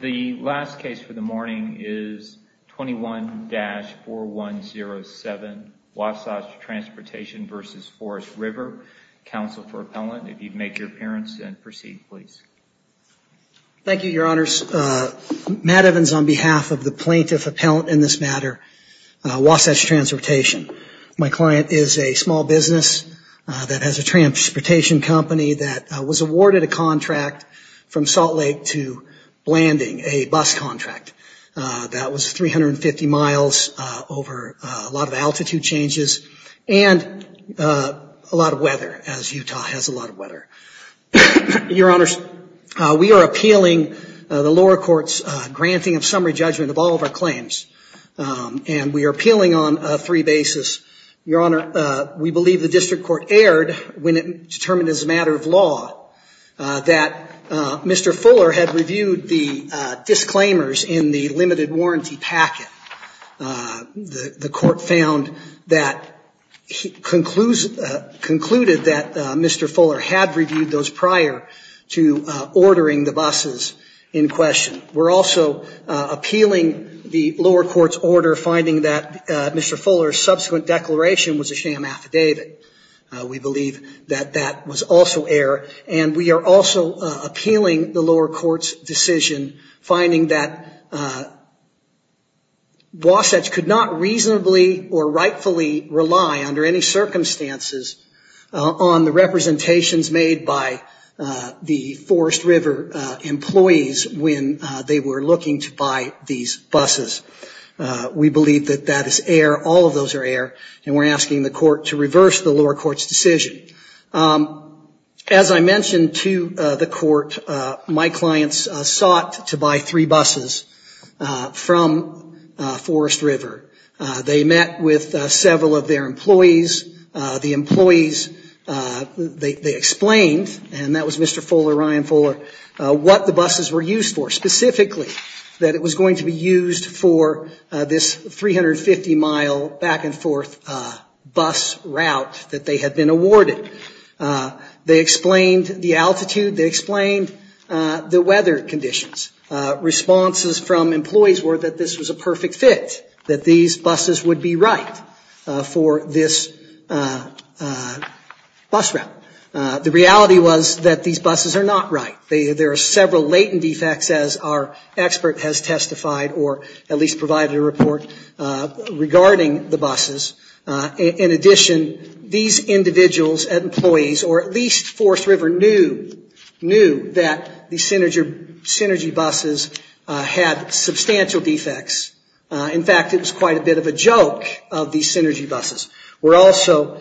The last case for the morning is 21-4107, Wasatch Transportation v. Forest River. Counsel for Appellant, if you'd make your appearance and proceed, please. Thank you, Your Honors. Matt Evans on behalf of the Plaintiff Appellant in this matter, Wasatch Transportation. My client is a small business that has a transportation company that was awarded a contract from Salt Landing, a bus contract that was 350 miles over a lot of altitude changes and a lot of weather, as Utah has a lot of weather. Your Honors, we are appealing the lower court's granting of summary judgment of all of our claims and we are appealing on three bases. Your Honor, we believe the district court erred when it determined as a matter of law that Mr. Fuller had reviewed the disclaimers in the limited warranty packet. The court found that, concluded that Mr. Fuller had reviewed those prior to ordering the buses in question. We're also appealing the lower court's order finding that Mr. Fuller's subsequent declaration was a sham affidavit. We believe that that was also error and we are also appealing the lower court's decision finding that Wasatch could not reasonably or rightfully rely under any circumstances on the representations made by the Forest River employees when they were looking to buy these buses. We believe that that is error, all of those are error and we're asking the court to reverse the lower court's decision. As I mentioned to the court, my clients sought to buy three buses from Forest River. They met with several of their employees. The employees, they explained, and that was Mr. Fuller, Ryan Fuller, what the buses were used for this 350 mile back and forth bus route that they had been awarded. They explained the altitude, they explained the weather conditions, responses from employees were that this was a perfect fit, that these buses would be right for this bus route. The reality was that these buses are not right. There are several latent defects as our expert has testified or at least provided a report regarding the buses. In addition, these individuals and employees, or at least Forest River, knew that the Synergy buses had substantial defects. In fact, it was quite a bit of a joke of the Synergy buses where also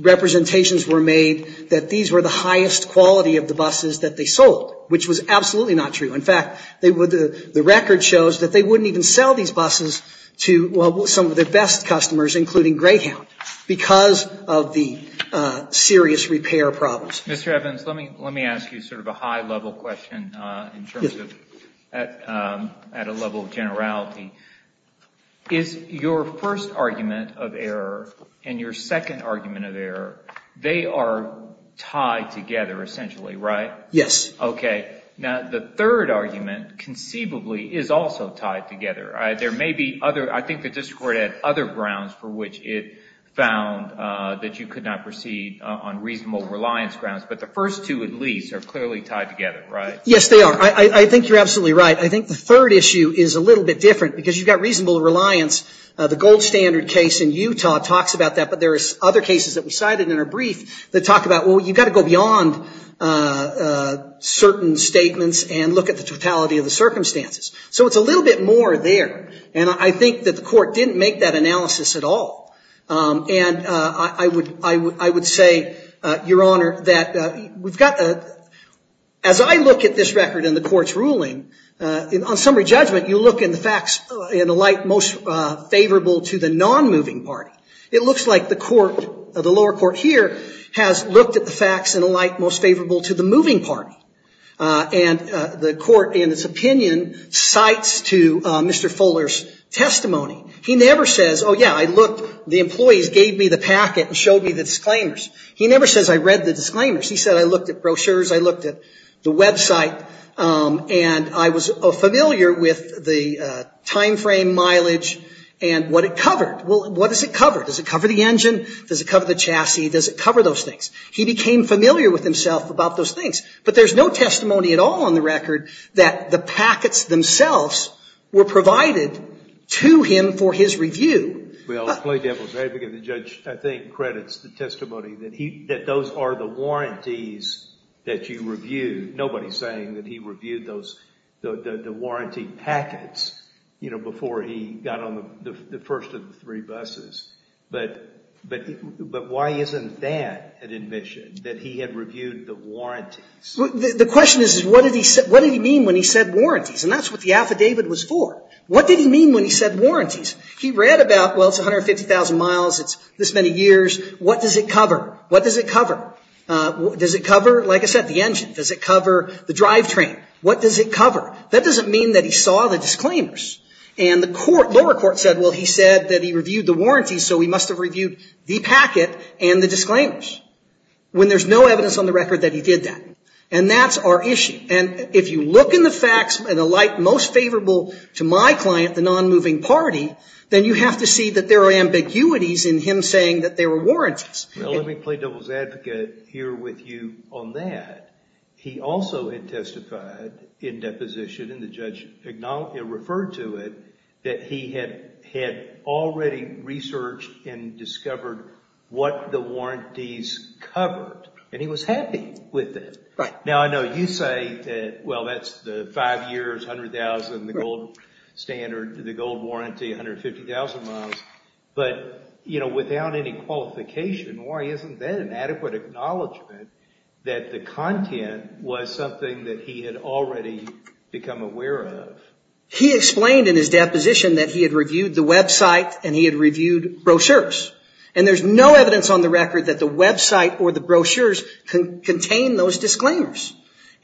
representations were made that these were the highest quality of the buses that they sold, which was absolutely not true. In fact, the record shows that they wouldn't even sell these buses to some of their best customers including Greyhound because of the serious repair problems. Mr. Evans, let me ask you sort of a high level question in terms of at a level of generality. Is your first argument of error and your second argument of error, they are tied together essentially, right? Yes. Okay. Now, the third argument conceivably is also tied together. There may be other, I think the district court had other grounds for which it found that you could not proceed on reasonable reliance grounds, but the first two at least are clearly tied together, right? Yes, they are. I think you're absolutely right. I think the third issue is a little bit different because you've got reasonable reliance. The gold standard case in Utah talks about that, but there are other cases that we cited in our brief that talk about, well, you've got to go beyond certain statements and look at the totality of the circumstances. So it's a little bit more there. And I think that the court didn't make that analysis at all. And I would say, Your Honor, that we've got a, as I look at this record in the court's ruling, on summary judgment, you look in the facts in a light most favorable to the non-moving party. It looks like the court, the lower court here, has looked at the facts in a light most favorable to the moving party. And the court in its opinion cites to Mr. Fuller's testimony. He never says, oh, yeah, I looked, the employees gave me the packet and showed me the disclaimers. He never says, I read the disclaimers. He said, I looked at brochures, I looked at the website, and I was familiar with the time frame, mileage, and what it covered. Well, what does it cover? Does it cover the engine? Does it cover the chassis? Does it cover those things? He became familiar with himself about those things. But there's no testimony at all on the record that the packets themselves were provided to him for his review. Well, let me give a break, because the judge, I think, credits the testimony that those are the warranties that you reviewed. Nobody's saying that he reviewed those, the warranty packets, you know, before he got on the first of the three buses. But why isn't that an admission, that he had reviewed the warranties? The question is, what did he mean when he said warranties, and that's what the affidavit was for. What did he mean when he said warranties? He read about, well, it's 150,000 miles, it's this many years, what does it cover? What does it cover? Does it cover, like I said, the engine? Does it cover the drivetrain? What does it cover? That doesn't mean that he saw the disclaimers. And the lower court said, well, he said that he reviewed the warranties, so he must have reviewed the packet and the disclaimers, when there's no evidence on the record that he did that. And that's our issue. And if you look in the facts, and the light most favorable to my client, the non-moving party, then you have to see that there are ambiguities in him saying that there were warranties. Well, let me play devil's advocate here with you on that. He also had testified in deposition, and the judge referred to it, that he had already researched and discovered what the warranties covered, and he was happy with it. Right. Now, I know you say that, well, that's the five years, 100,000, the gold standard, the gold warranty, 150,000 miles, but without any qualification, why isn't that an adequate acknowledgment that the content was something that he had already become aware of? He explained in his deposition that he had reviewed the website and he had reviewed brochures, and there's no evidence on the record that the website or the brochures contain those disclaimers.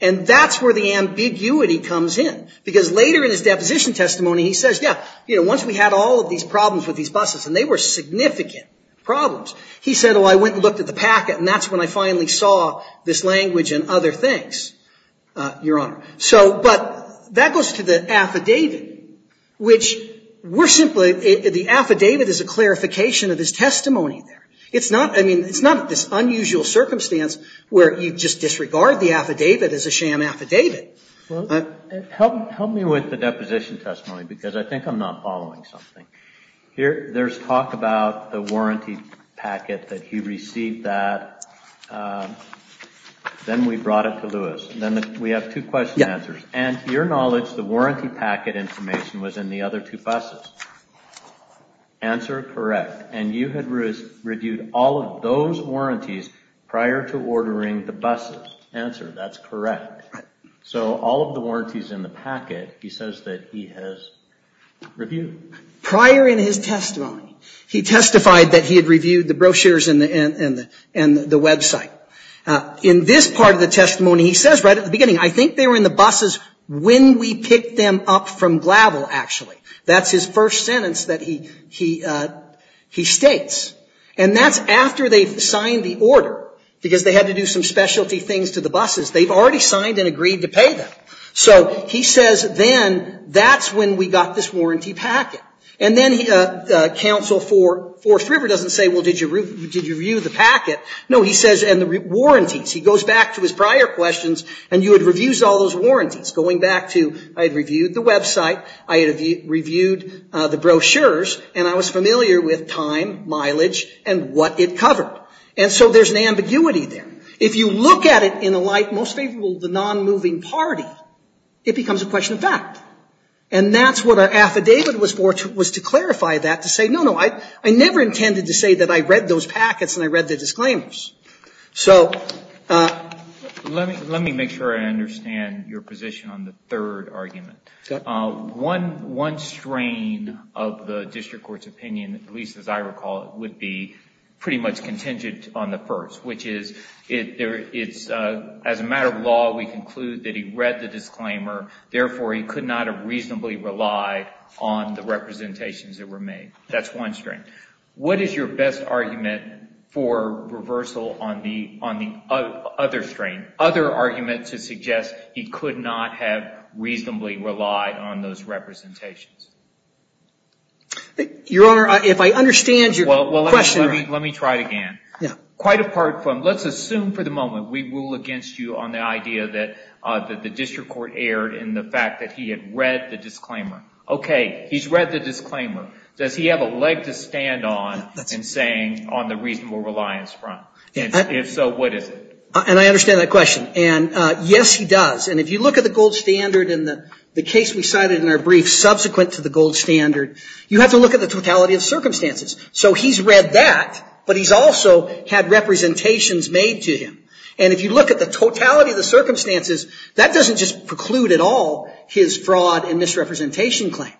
And that's where the ambiguity comes in. Because later in his deposition testimony, he says, yeah, once we had all of these problems with these buses, and they were significant problems, he said, oh, I went and looked at the packet, and that's when I finally saw this language and other things, Your Honor. But that goes to the affidavit, which we're simply, the affidavit is a clarification of his testimony there. It's not, I mean, it's not this unusual circumstance where you just disregard the affidavit as a sham affidavit. Well, help me with the deposition testimony, because I think I'm not following something. There's talk about the warranty packet that he received that, then we brought it to Lewis, and then we have two question answers. And to your knowledge, the warranty packet information was in the other two buses. Answer correct. And you had reviewed all of those warranties prior to ordering the buses. Answer, that's correct. So all of the warranties in the packet, he says that he has reviewed. Prior in his testimony, he testified that he had reviewed the brochures and the website. In this part of the testimony, he says right at the beginning, I think they were in the buses when we picked them up from Glavel, actually. That's his first sentence that he states. And that's after they've signed the order, because they had to do some specialty things to the buses. They've already signed and agreed to pay them. So he says, then, that's when we got this warranty packet. And then the counsel for Fourth River doesn't say, well, did you review the packet? No, he says, and the warranties. He goes back to his prior questions, and he reviews all those warranties, going back to, I had reviewed the website, I had reviewed the brochures, and I was familiar with time, mileage, and what it covered. And so there's an ambiguity there. If you look at it in a light most favorable to the non-moving party, it becomes a question of fact. And that's what our affidavit was for, was to clarify that, to say, no, no, I never intended to say that I read those packets and I read the disclaimers. So let me make sure I understand your position on the third argument. One strain of the district court's opinion, at least as I recall it, would be pretty much contingent on the first, which is, as a matter of law, we conclude that he read the disclaimer, therefore he could not have reasonably relied on the representations that were made. That's one strain. What is your best argument for reversal on the other strain, other argument to suggest he could not have reasonably relied on those representations? Your Honor, if I understand your question right. Let me try it again. Quite apart from, let's assume for the moment we rule against you on the idea that the district court erred in the fact that he had read the disclaimer. Okay, he's read the disclaimer. Does he have a leg to stand on in saying on the reasonable reliance front? If so, what is it? And I understand that question. And yes, he does. And if you look at the gold standard in the case we cited in our brief subsequent to the gold standard, you have to look at the totality of circumstances. So he's read that, but he's also had representations made to him. And if you look at the totality of the circumstances, that doesn't just preclude at all his fraud and misrepresentation claim.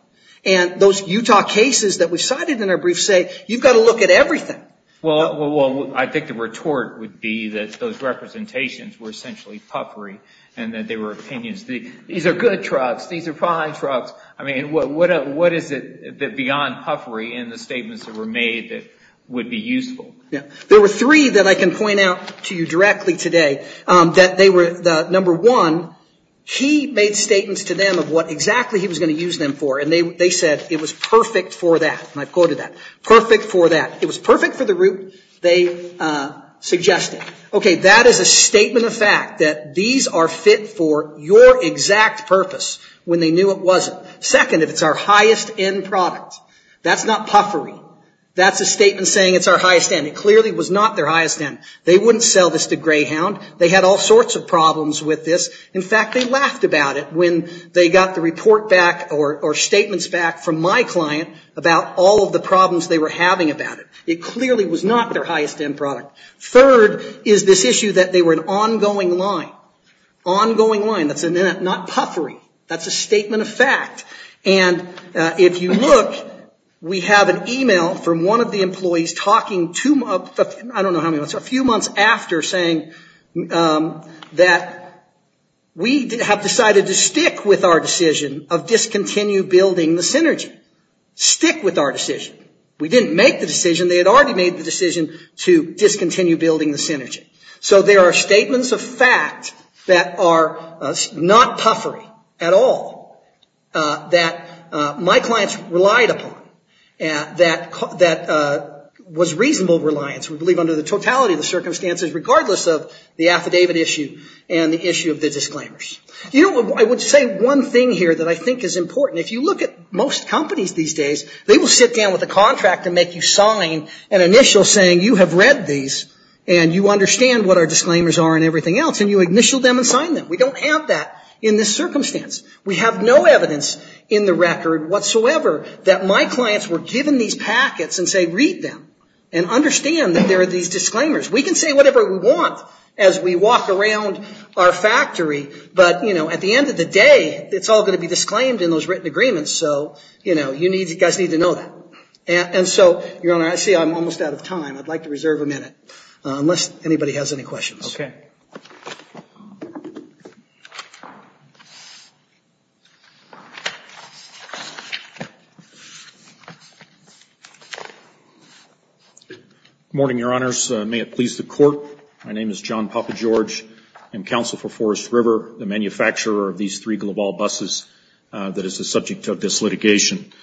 And those Utah cases that we cited in our brief say you've got to look at everything. Well, I think the retort would be that those representations were essentially puffery and that they were opinions. These are good trucks, these are fine trucks. I mean, what is it that beyond puffery in the statements that were made that would be useful? There were three that I can point out to you directly today that they were, number one, he made statements to them of what exactly he was going to use them for. And they said it was perfect for that. And I've quoted that. Perfect for that. It was perfect for the route they suggested. Okay, that is a statement of fact that these are fit for your exact purpose when they knew it wasn't. Second, if it's our highest end product. That's not puffery. That's a statement saying it's our highest end. It clearly was not their highest end. They wouldn't sell this to Greyhound. They had all sorts of problems with this. In fact, they laughed about it when they got the report back or statements back from my client about all of the problems they were having about it. It clearly was not their highest end product. Third is this issue that they were an ongoing line. Ongoing line. That's not puffery. That's a statement of fact. And if you look, we have an email from one of the employees talking two months, I don't know, that we have decided to stick with our decision of discontinue building the Synergy. Stick with our decision. We didn't make the decision. They had already made the decision to discontinue building the Synergy. So there are statements of fact that are not puffery at all that my clients relied upon that was reasonable reliance. We believe under the totality of the circumstances regardless of the affidavit issue and the issue of the disclaimers. You know, I would say one thing here that I think is important. If you look at most companies these days, they will sit down with a contract and make you sign an initial saying you have read these and you understand what our disclaimers are and everything else and you initial them and sign them. We don't have that in this circumstance. We have no evidence in the record whatsoever that my clients were given these packets and say read them and understand that there are these disclaimers. We can say whatever we want as we walk around our factory, but at the end of the day, it's all going to be disclaimed in those written agreements. So you guys need to know that. And so, Your Honor, I see I'm almost out of time. I'd like to reserve a minute unless anybody has any questions. Okay. Good morning, Your Honors. May it please the Court. My name is John Papa George. I'm counsel for Forest River, the manufacturer of these three Global buses that is the subject of this litigation.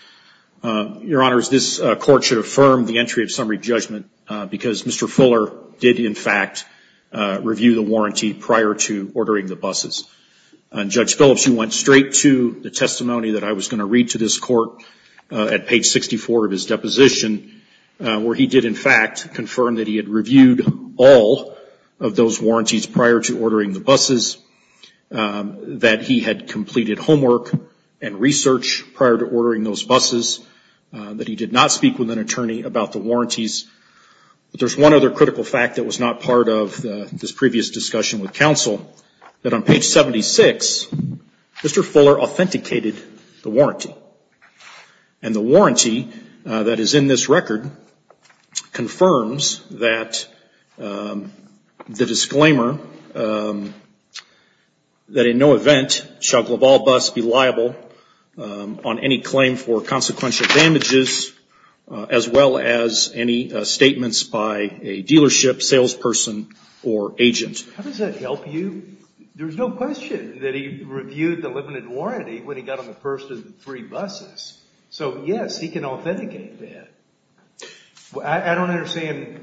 Your Honors, this Court should affirm the entry of summary judgment because Mr. Fuller did, in fact, review the warranty prior to ordering the buses. Judge Phillips, you went straight to the testimony that I was going to read to this Court at page 64 of his deposition where he did, in fact, confirm that he had reviewed all of those warranties prior to ordering the buses, that he had completed homework and research prior to ordering those buses, that he did not speak with an attorney about the warranties. But there's one other critical fact that was not part of this previous discussion with counsel, that on page 76, Mr. Fuller authenticated the warranty. And the warranty that is in this record confirms that the disclaimer that in no event shall be changed. And that is that he did not make any statements by a dealership, salesperson, or agent. How does that help you? There's no question that he reviewed the limited warranty when he got on the first of the three buses. So, yes, he can authenticate that. I don't understand.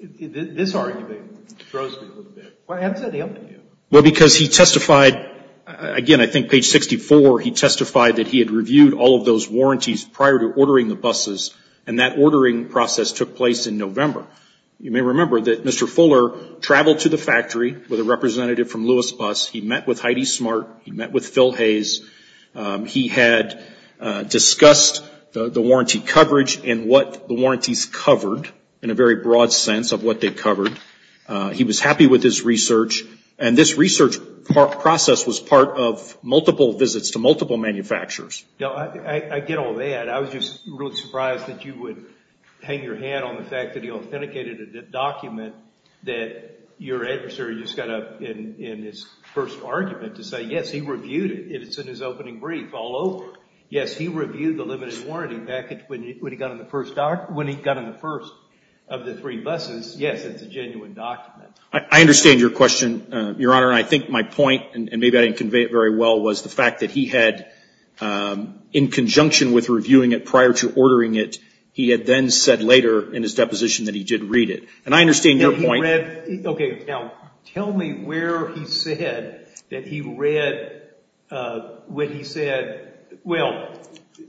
This argument throws me a little bit. How does that help you? Well, because he testified, again, I think page 64, he testified that he had reviewed all of those warranties prior to ordering the buses. And that ordering process took place in November. You may remember that Mr. Fuller traveled to the factory with a representative from Lewis Bus. He met with Heidi Smart. He met with Phil Hayes. He had discussed the warranty coverage and what the warranties covered in a very broad sense of what they covered. He was happy with his research. And this research process was part of multiple visits to multiple manufacturers. I get all that. I was just really surprised that you would hang your hand on the fact that he authenticated a document that your adversary just got up in his first argument to say, yes, he reviewed it. It's in his opening brief all over. Yes, he reviewed the limited warranty package when he got on the first of the three buses. Yes, it's a genuine document. I understand your question, Your Honor. And I think my point, and maybe I didn't convey it very well, was the fact that he had, in conjunction with reviewing it prior to ordering it, he had then said later in his deposition that he did read it. And I understand your point. He read. OK. Now, tell me where he said that he read when he said, well,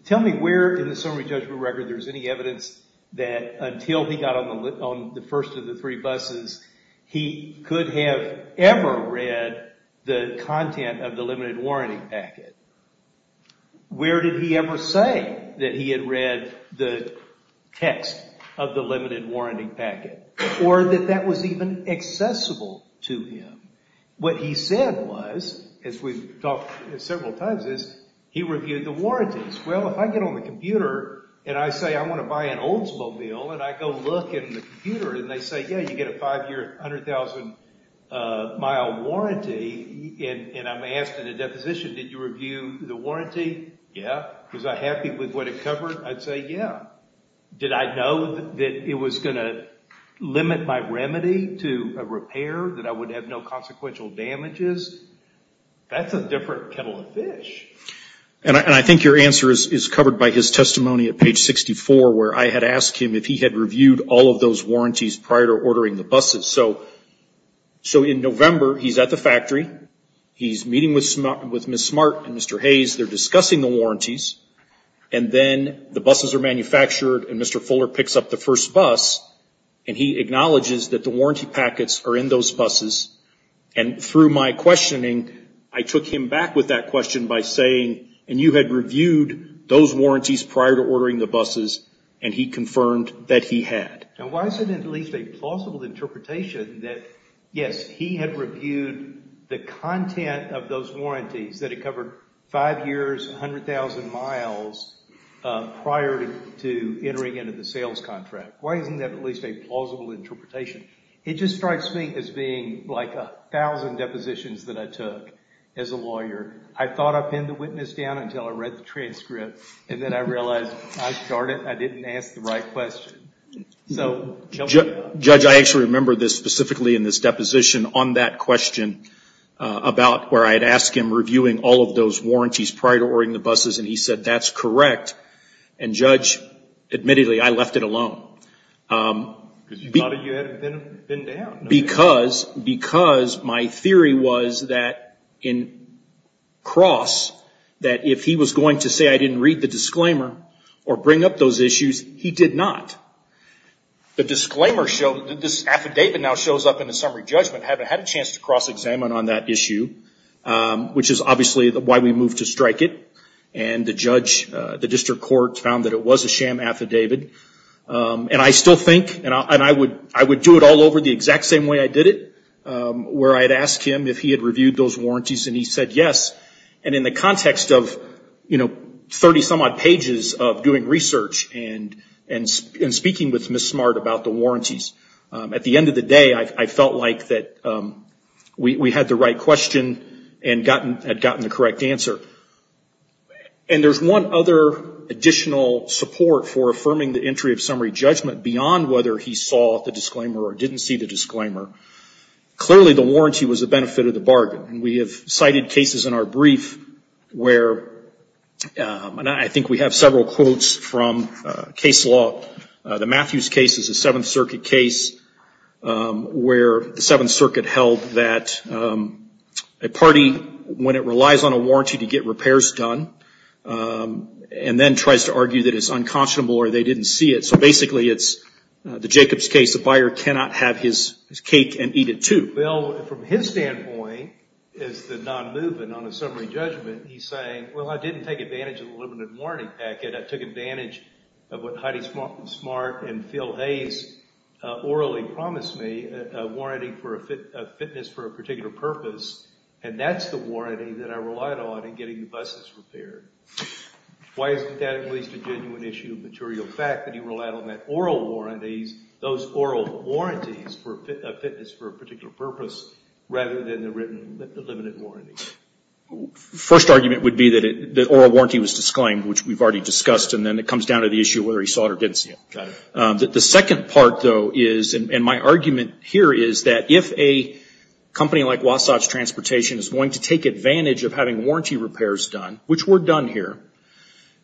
tell me where in the summary of the first three buses he could have ever read the content of the limited warranty packet. Where did he ever say that he had read the text of the limited warranty packet? Or that that was even accessible to him? What he said was, as we've talked several times, is he reviewed the warranties. Well, if I get on the computer and I say, I want to buy an Oldsmobile, and I go look in the computer, and they say, yeah, you get a five-year, 100,000-mile warranty, and I'm asked in a deposition, did you review the warranty? Yeah. Was I happy with what it covered? I'd say, yeah. Did I know that it was going to limit my remedy to a repair, that I would have no consequential damages? That's a different kettle of fish. And I think your answer is covered by his testimony at page 64, where I had asked him if he had reviewed all of those warranties prior to ordering the buses. So in November, he's at the factory. He's meeting with Ms. Smart and Mr. Hayes. They're discussing the warranties. And then the buses are manufactured, and Mr. Fuller picks up the first bus, and he acknowledges that the warranty packets are in those buses. And through my questioning, I took him back with that question by saying, and you had those warranties prior to ordering the buses, and he confirmed that he had. Now, why is it at least a plausible interpretation that, yes, he had reviewed the content of those warranties, that it covered five years, 100,000 miles, prior to entering into the sales contract? Why isn't that at least a plausible interpretation? It just strikes me as being like 1,000 depositions that I took as a lawyer. I thought I pinned the witness down until I read the transcript, and then I realized I started, and I didn't ask the right question. So... Judge, I actually remember this specifically in this deposition on that question about where I had asked him reviewing all of those warranties prior to ordering the buses, and he said, that's correct. And Judge, admittedly, I left it alone. Because you thought you had been down. Because my theory was that in cross, that if he was going to say I didn't read the disclaimer, or bring up those issues, he did not. The disclaimer showed, this affidavit now shows up in the summary judgment, had a chance to cross-examine on that issue, which is obviously why we moved to strike it, and the judge, the district court found that it was a sham affidavit, and I still think, and I would do it all over the exact same way I did it, where I had asked him if he had reviewed those warranties, and he said yes. And in the context of, you know, 30 some odd pages of doing research, and speaking with Ms. Smart about the warranties, at the end of the day, I felt like that we had the right question and had gotten the correct answer. And there's one other additional support for affirming the entry of summary judgment beyond whether he saw the disclaimer or didn't see the disclaimer. Clearly the warranty was a benefit of the bargain, and we have cited cases in our brief where, and I think we have several quotes from case law, the Matthews case is a Seventh Circuit case where the Seventh Circuit held that a party, when it relies on a warranty to get repairs done, and then tries to argue that it's unconscionable or they didn't see it. So basically it's the Jacobs case, the buyer cannot have his cake and eat it too. Well, from his standpoint, as the non-movement on the summary judgment, he's saying, well, I didn't take advantage of the limited warranty packet, I took advantage of what Heidi Smart and Phil Hayes orally promised me, a warranty for a fitness for a particular purpose, and that's the warranty that I relied on in getting the buses repaired. Why isn't that at least a genuine issue of material fact that he relied on that oral warranties, those oral warranties for a fitness for a particular purpose, rather than the written limited warranty? First argument would be that oral warranty was disclaimed, which we've already discussed, and then it comes down to the issue of whether he saw it or didn't see it. The second part, though, is, and my argument here is that if a company like Wasatch Transportation is going to take advantage of having warranty repairs done, which were done here,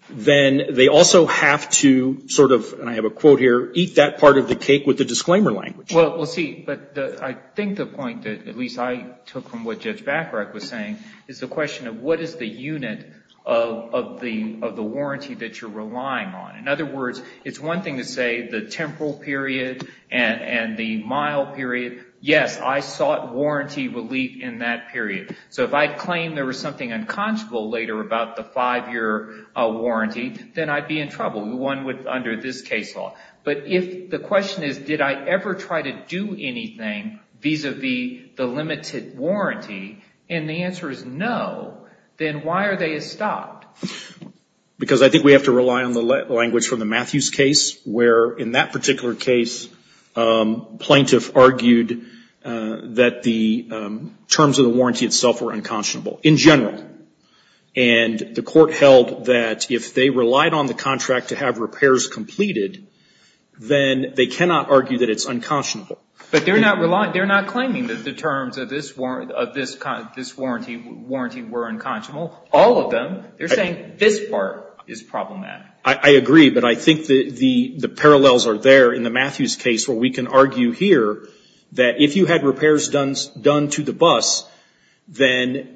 then they also have to sort of, and I have a quote here, eat that part of the cake with the disclaimer language. Well, see, but I think the point that at least I took from what Judge Bacharach was saying is the question of what is the unit of the warranty that you're relying on. In other words, it's one thing to say the temporal period and the mile period, yes, I sought warranty relief in that period. So if I claim there was something unconscionable later about the five-year warranty, then I'd be in trouble, the one under this case law. But if the question is did I ever try to do anything vis-a-vis the limited warranty, and the answer is no, then why are they stopped? Because I think we have to rely on the language from the Matthews case, where in that particular case, plaintiff argued that the terms of the warranty itself were unconscionable, in general. And the court held that if they relied on the contract to have repairs completed, then they cannot argue that it's unconscionable. But they're not claiming that the terms of this warranty were unconscionable. All of them, they're saying this part is problematic. I agree, but I think the parallels are there in the Matthews case, where we can argue here that if you had repairs done to the bus, then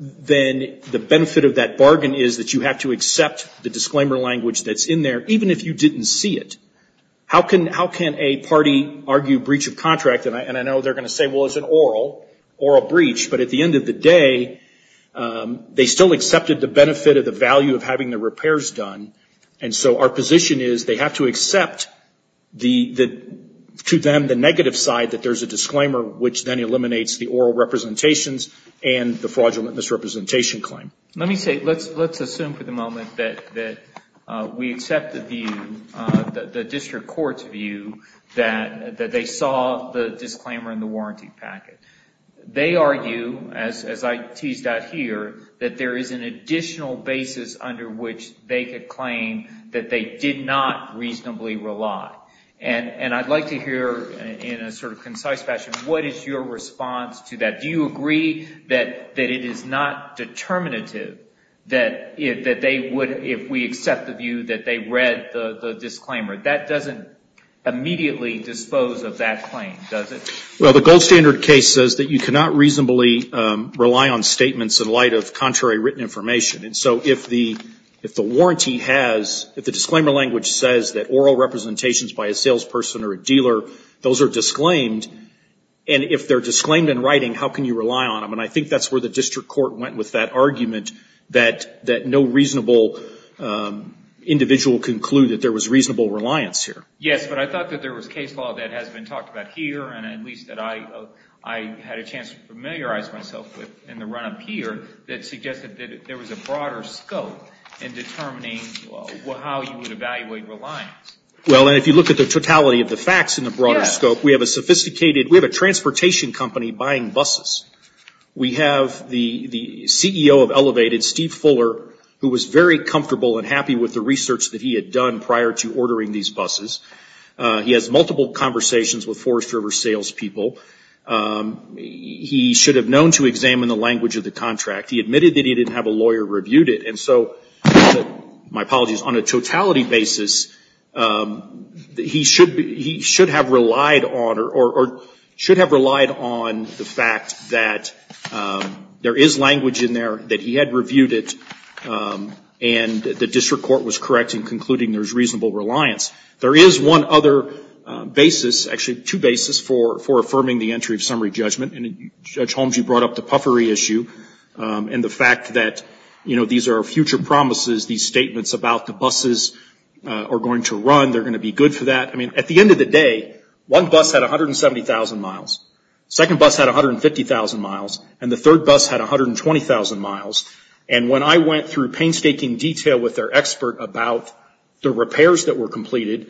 the benefit of that bargain is that you have to accept the disclaimer language that's in there, even if you didn't see it. How can a party argue breach of contract? And I know they're going to say, well, it's an oral breach, but at the end of the day, they still accepted the benefit of the value of having the repairs done. And so our position is they have to accept to them the negative side that there's a disclaimer, which then eliminates the oral representations and the fraudulent misrepresentation claim. Let me say, let's assume for the moment that we accept the view, the district court's view, that they saw the disclaimer in the warranty packet. They argue, as I teased out here, that there is an additional basis under which they could claim that they did not reasonably rely. And I'd like to hear in a sort of concise fashion, what is your response to that? Do you agree that it is not determinative that they would, if we accept the view, that they read the disclaimer? That doesn't immediately dispose of that claim, does it? Well, the gold standard case says that you cannot reasonably rely on statements in light of contrary written information. And so if the warranty has, if the disclaimer language says that oral representations by a salesperson or a dealer, those are disclaimed. And if they're disclaimed in writing, how can you rely on them? And I think that's where the district court went with that argument that no reasonable individual could conclude that there was reasonable reliance here. Yes, but I thought that there was case law that has been talked about here, and at least that I had a chance to familiarize myself with in the run-up here, that suggested that there was a broader scope in determining how you would evaluate reliance. Well, and if you look at the totality of the facts in the broader scope, we have a sophisticated, we have a transportation company buying buses. We have the CEO of Elevated, Steve Fuller, who was very comfortable and happy with the research that he had done prior to ordering these buses. He has multiple conversations with Forest River salespeople. He should have known to examine the language of the contract. He admitted that he didn't have a lawyer review it. And so, my apologies, on a totality basis, he should have relied on or should have relied on the fact that there is language in there, that he had reviewed it, and the district court was correct in concluding there's reasonable reliance. There is one other basis, actually two basis, for affirming the entry of summary judgment. And Judge Holmes, you brought up the puffery issue and the fact that, you know, these are future promises, these statements about the buses are going to run. They're going to be good for that. I mean, at the end of the day, one bus had 170,000 miles. Second bus had 150,000 miles, and the third bus had 120,000 miles. And when I went through painstaking detail with their expert about the repairs that were completed,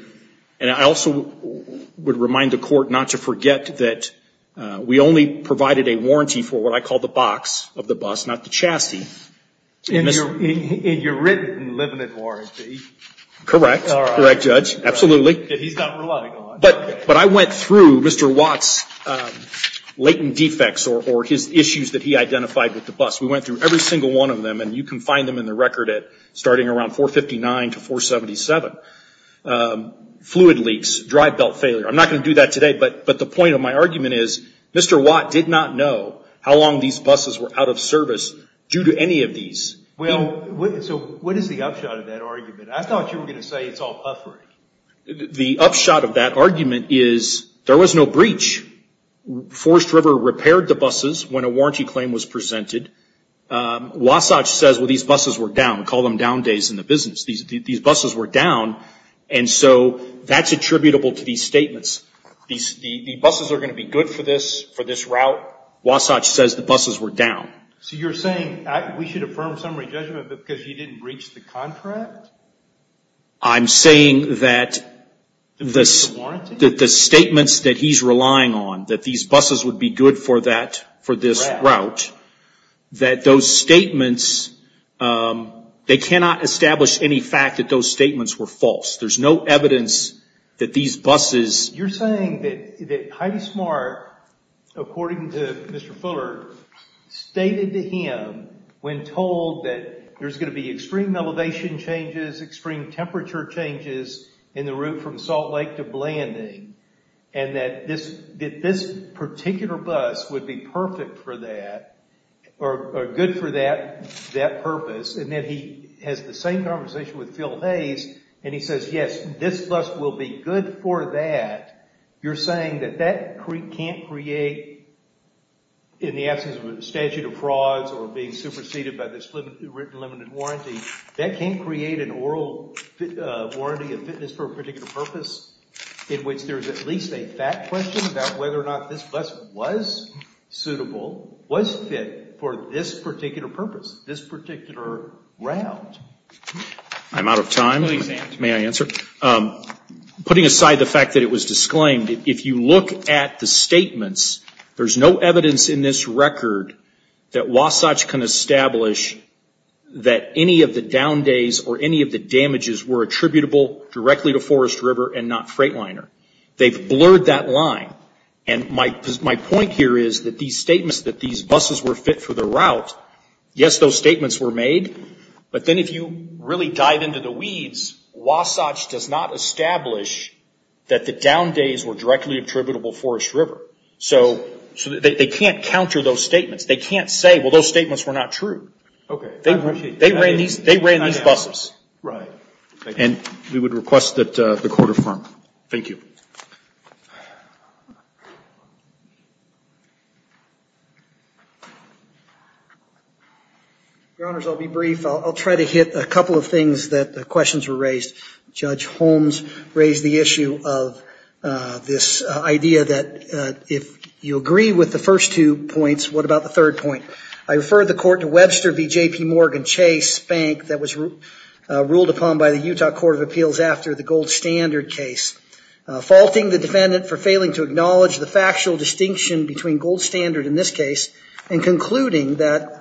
and I also would remind the court not to forget that we only provided a warranty for what I call the box of the bus, not the chassis. In your written limited warranty. Correct, correct, Judge, absolutely. That he's not relying on. But I went through Mr. Watt's latent defects or his issues that he identified with the bus. We went through every single one of them, and you can find them in the record at starting around 459 to 477. Fluid leaks, drive belt failure. I'm not going to do that today, but the point of my argument is, Mr. Watt did not know how long these buses were out of service due to any of these. Well, so what is the upshot of that argument? I thought you were going to say it's all puffery. The upshot of that argument is there was no breach. Forest River repaired the buses when a warranty claim was presented. Wasatch says, well, these buses were down. We call them down days in the business. These buses were down, and so that's attributable to these statements. The buses are going to be good for this route. Wasatch says the buses were down. So you're saying we should affirm summary judgment because he didn't breach the contract? I'm saying that the statements that he's relying on, that these buses would be good for that, for this route, that those statements, they cannot establish any fact that those statements were false. There's no evidence that these buses... You're saying that Heidi Smart, according to Mr. Fuller, stated to him, when told that there's going to be extreme elevation changes, extreme temperature changes in the route from Salt Lake to Blanding, and that this particular bus would be perfect for that, or good for that purpose. And then he has the same conversation with Phil Hayes, and he says, yes, this bus will be good for that. You're saying that that can't create, in the absence of a statute of frauds or being superseded by this written limited warranty, that can't create an oral warranty of fitness for a particular purpose in which there's at least a fact question about whether or not this bus was suitable, was fit for this particular purpose, this particular route. I'm out of time. May I answer? Putting aside the fact that it was disclaimed, if you look at the statements, there's no evidence in this record that Wasatch can establish that any of the down days or any of the damages were attributable directly to Forest River and not Freightliner. They've blurred that line. And my point here is that these statements that these buses were fit for the route, yes, those statements were made, but then if you really dive into the weeds, Wasatch does not establish that the down days were directly attributable Forest River. So they can't counter those statements. They can't say, well, those statements were not true. Okay. I appreciate it. They ran these buses. Right. Thank you. And we would request that the court affirm. Thank you. Your Honors, I'll be brief. I'll try to hit a couple of things that the questions were raised. Judge Holmes raised the issue of this idea that if you agree with the first two points, what about the third point? I referred the court to Webster v. J.P. Morgan Chase Bank that was ruled upon by the Utah Court of Appeals after the Gold Standard case, faulting the defendant for failing to acknowledge the factual distinction between Gold Standard in this case and concluding that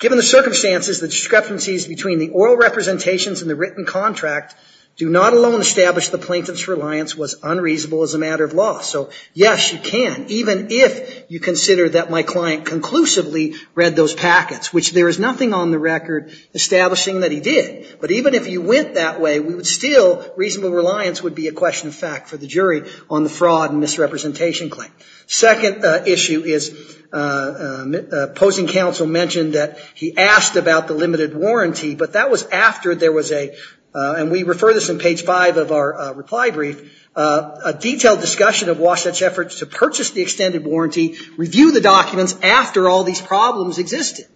given the circumstances, the discrepancies between the oral representations and the written contract do not alone establish the plaintiff's reliance was unreasonable as a matter of law. So, yes, you can, even if you consider that my client conclusively read those packets, which there is nothing on the record establishing that he did. But even if you went that way, we would still, reasonable reliance would be a question of fact for the jury on the fraud and misrepresentation claim. Second issue is opposing counsel mentioned that he asked about the limited warranty, but that was after there was a, and we refer this in page five of our reply brief, a detailed discussion of Wasatch's efforts to purchase the extended warranty, review the documents after all these problems existed.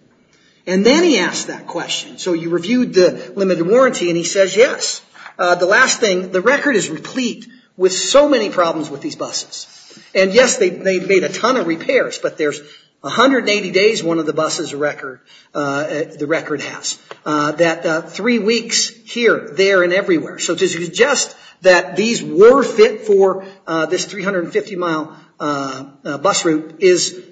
And then he asked that question. So you reviewed the limited warranty, and he says, yes, the last thing, the record is replete with so many problems with these buses. And yes, they've made a ton of repairs, but there's 180 days one of the buses record, the record has, that three weeks here, there, and everywhere. So to suggest that these were fit for this 350-mile bus route is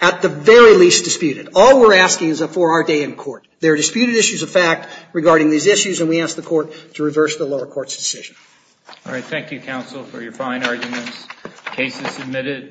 at the very least disputed. All we're asking is for our day in court. There are disputed issues of fact regarding these issues, and we ask the court to reverse the lower court's decision. All right, thank you, counsel, for your fine arguments. Case is submitted.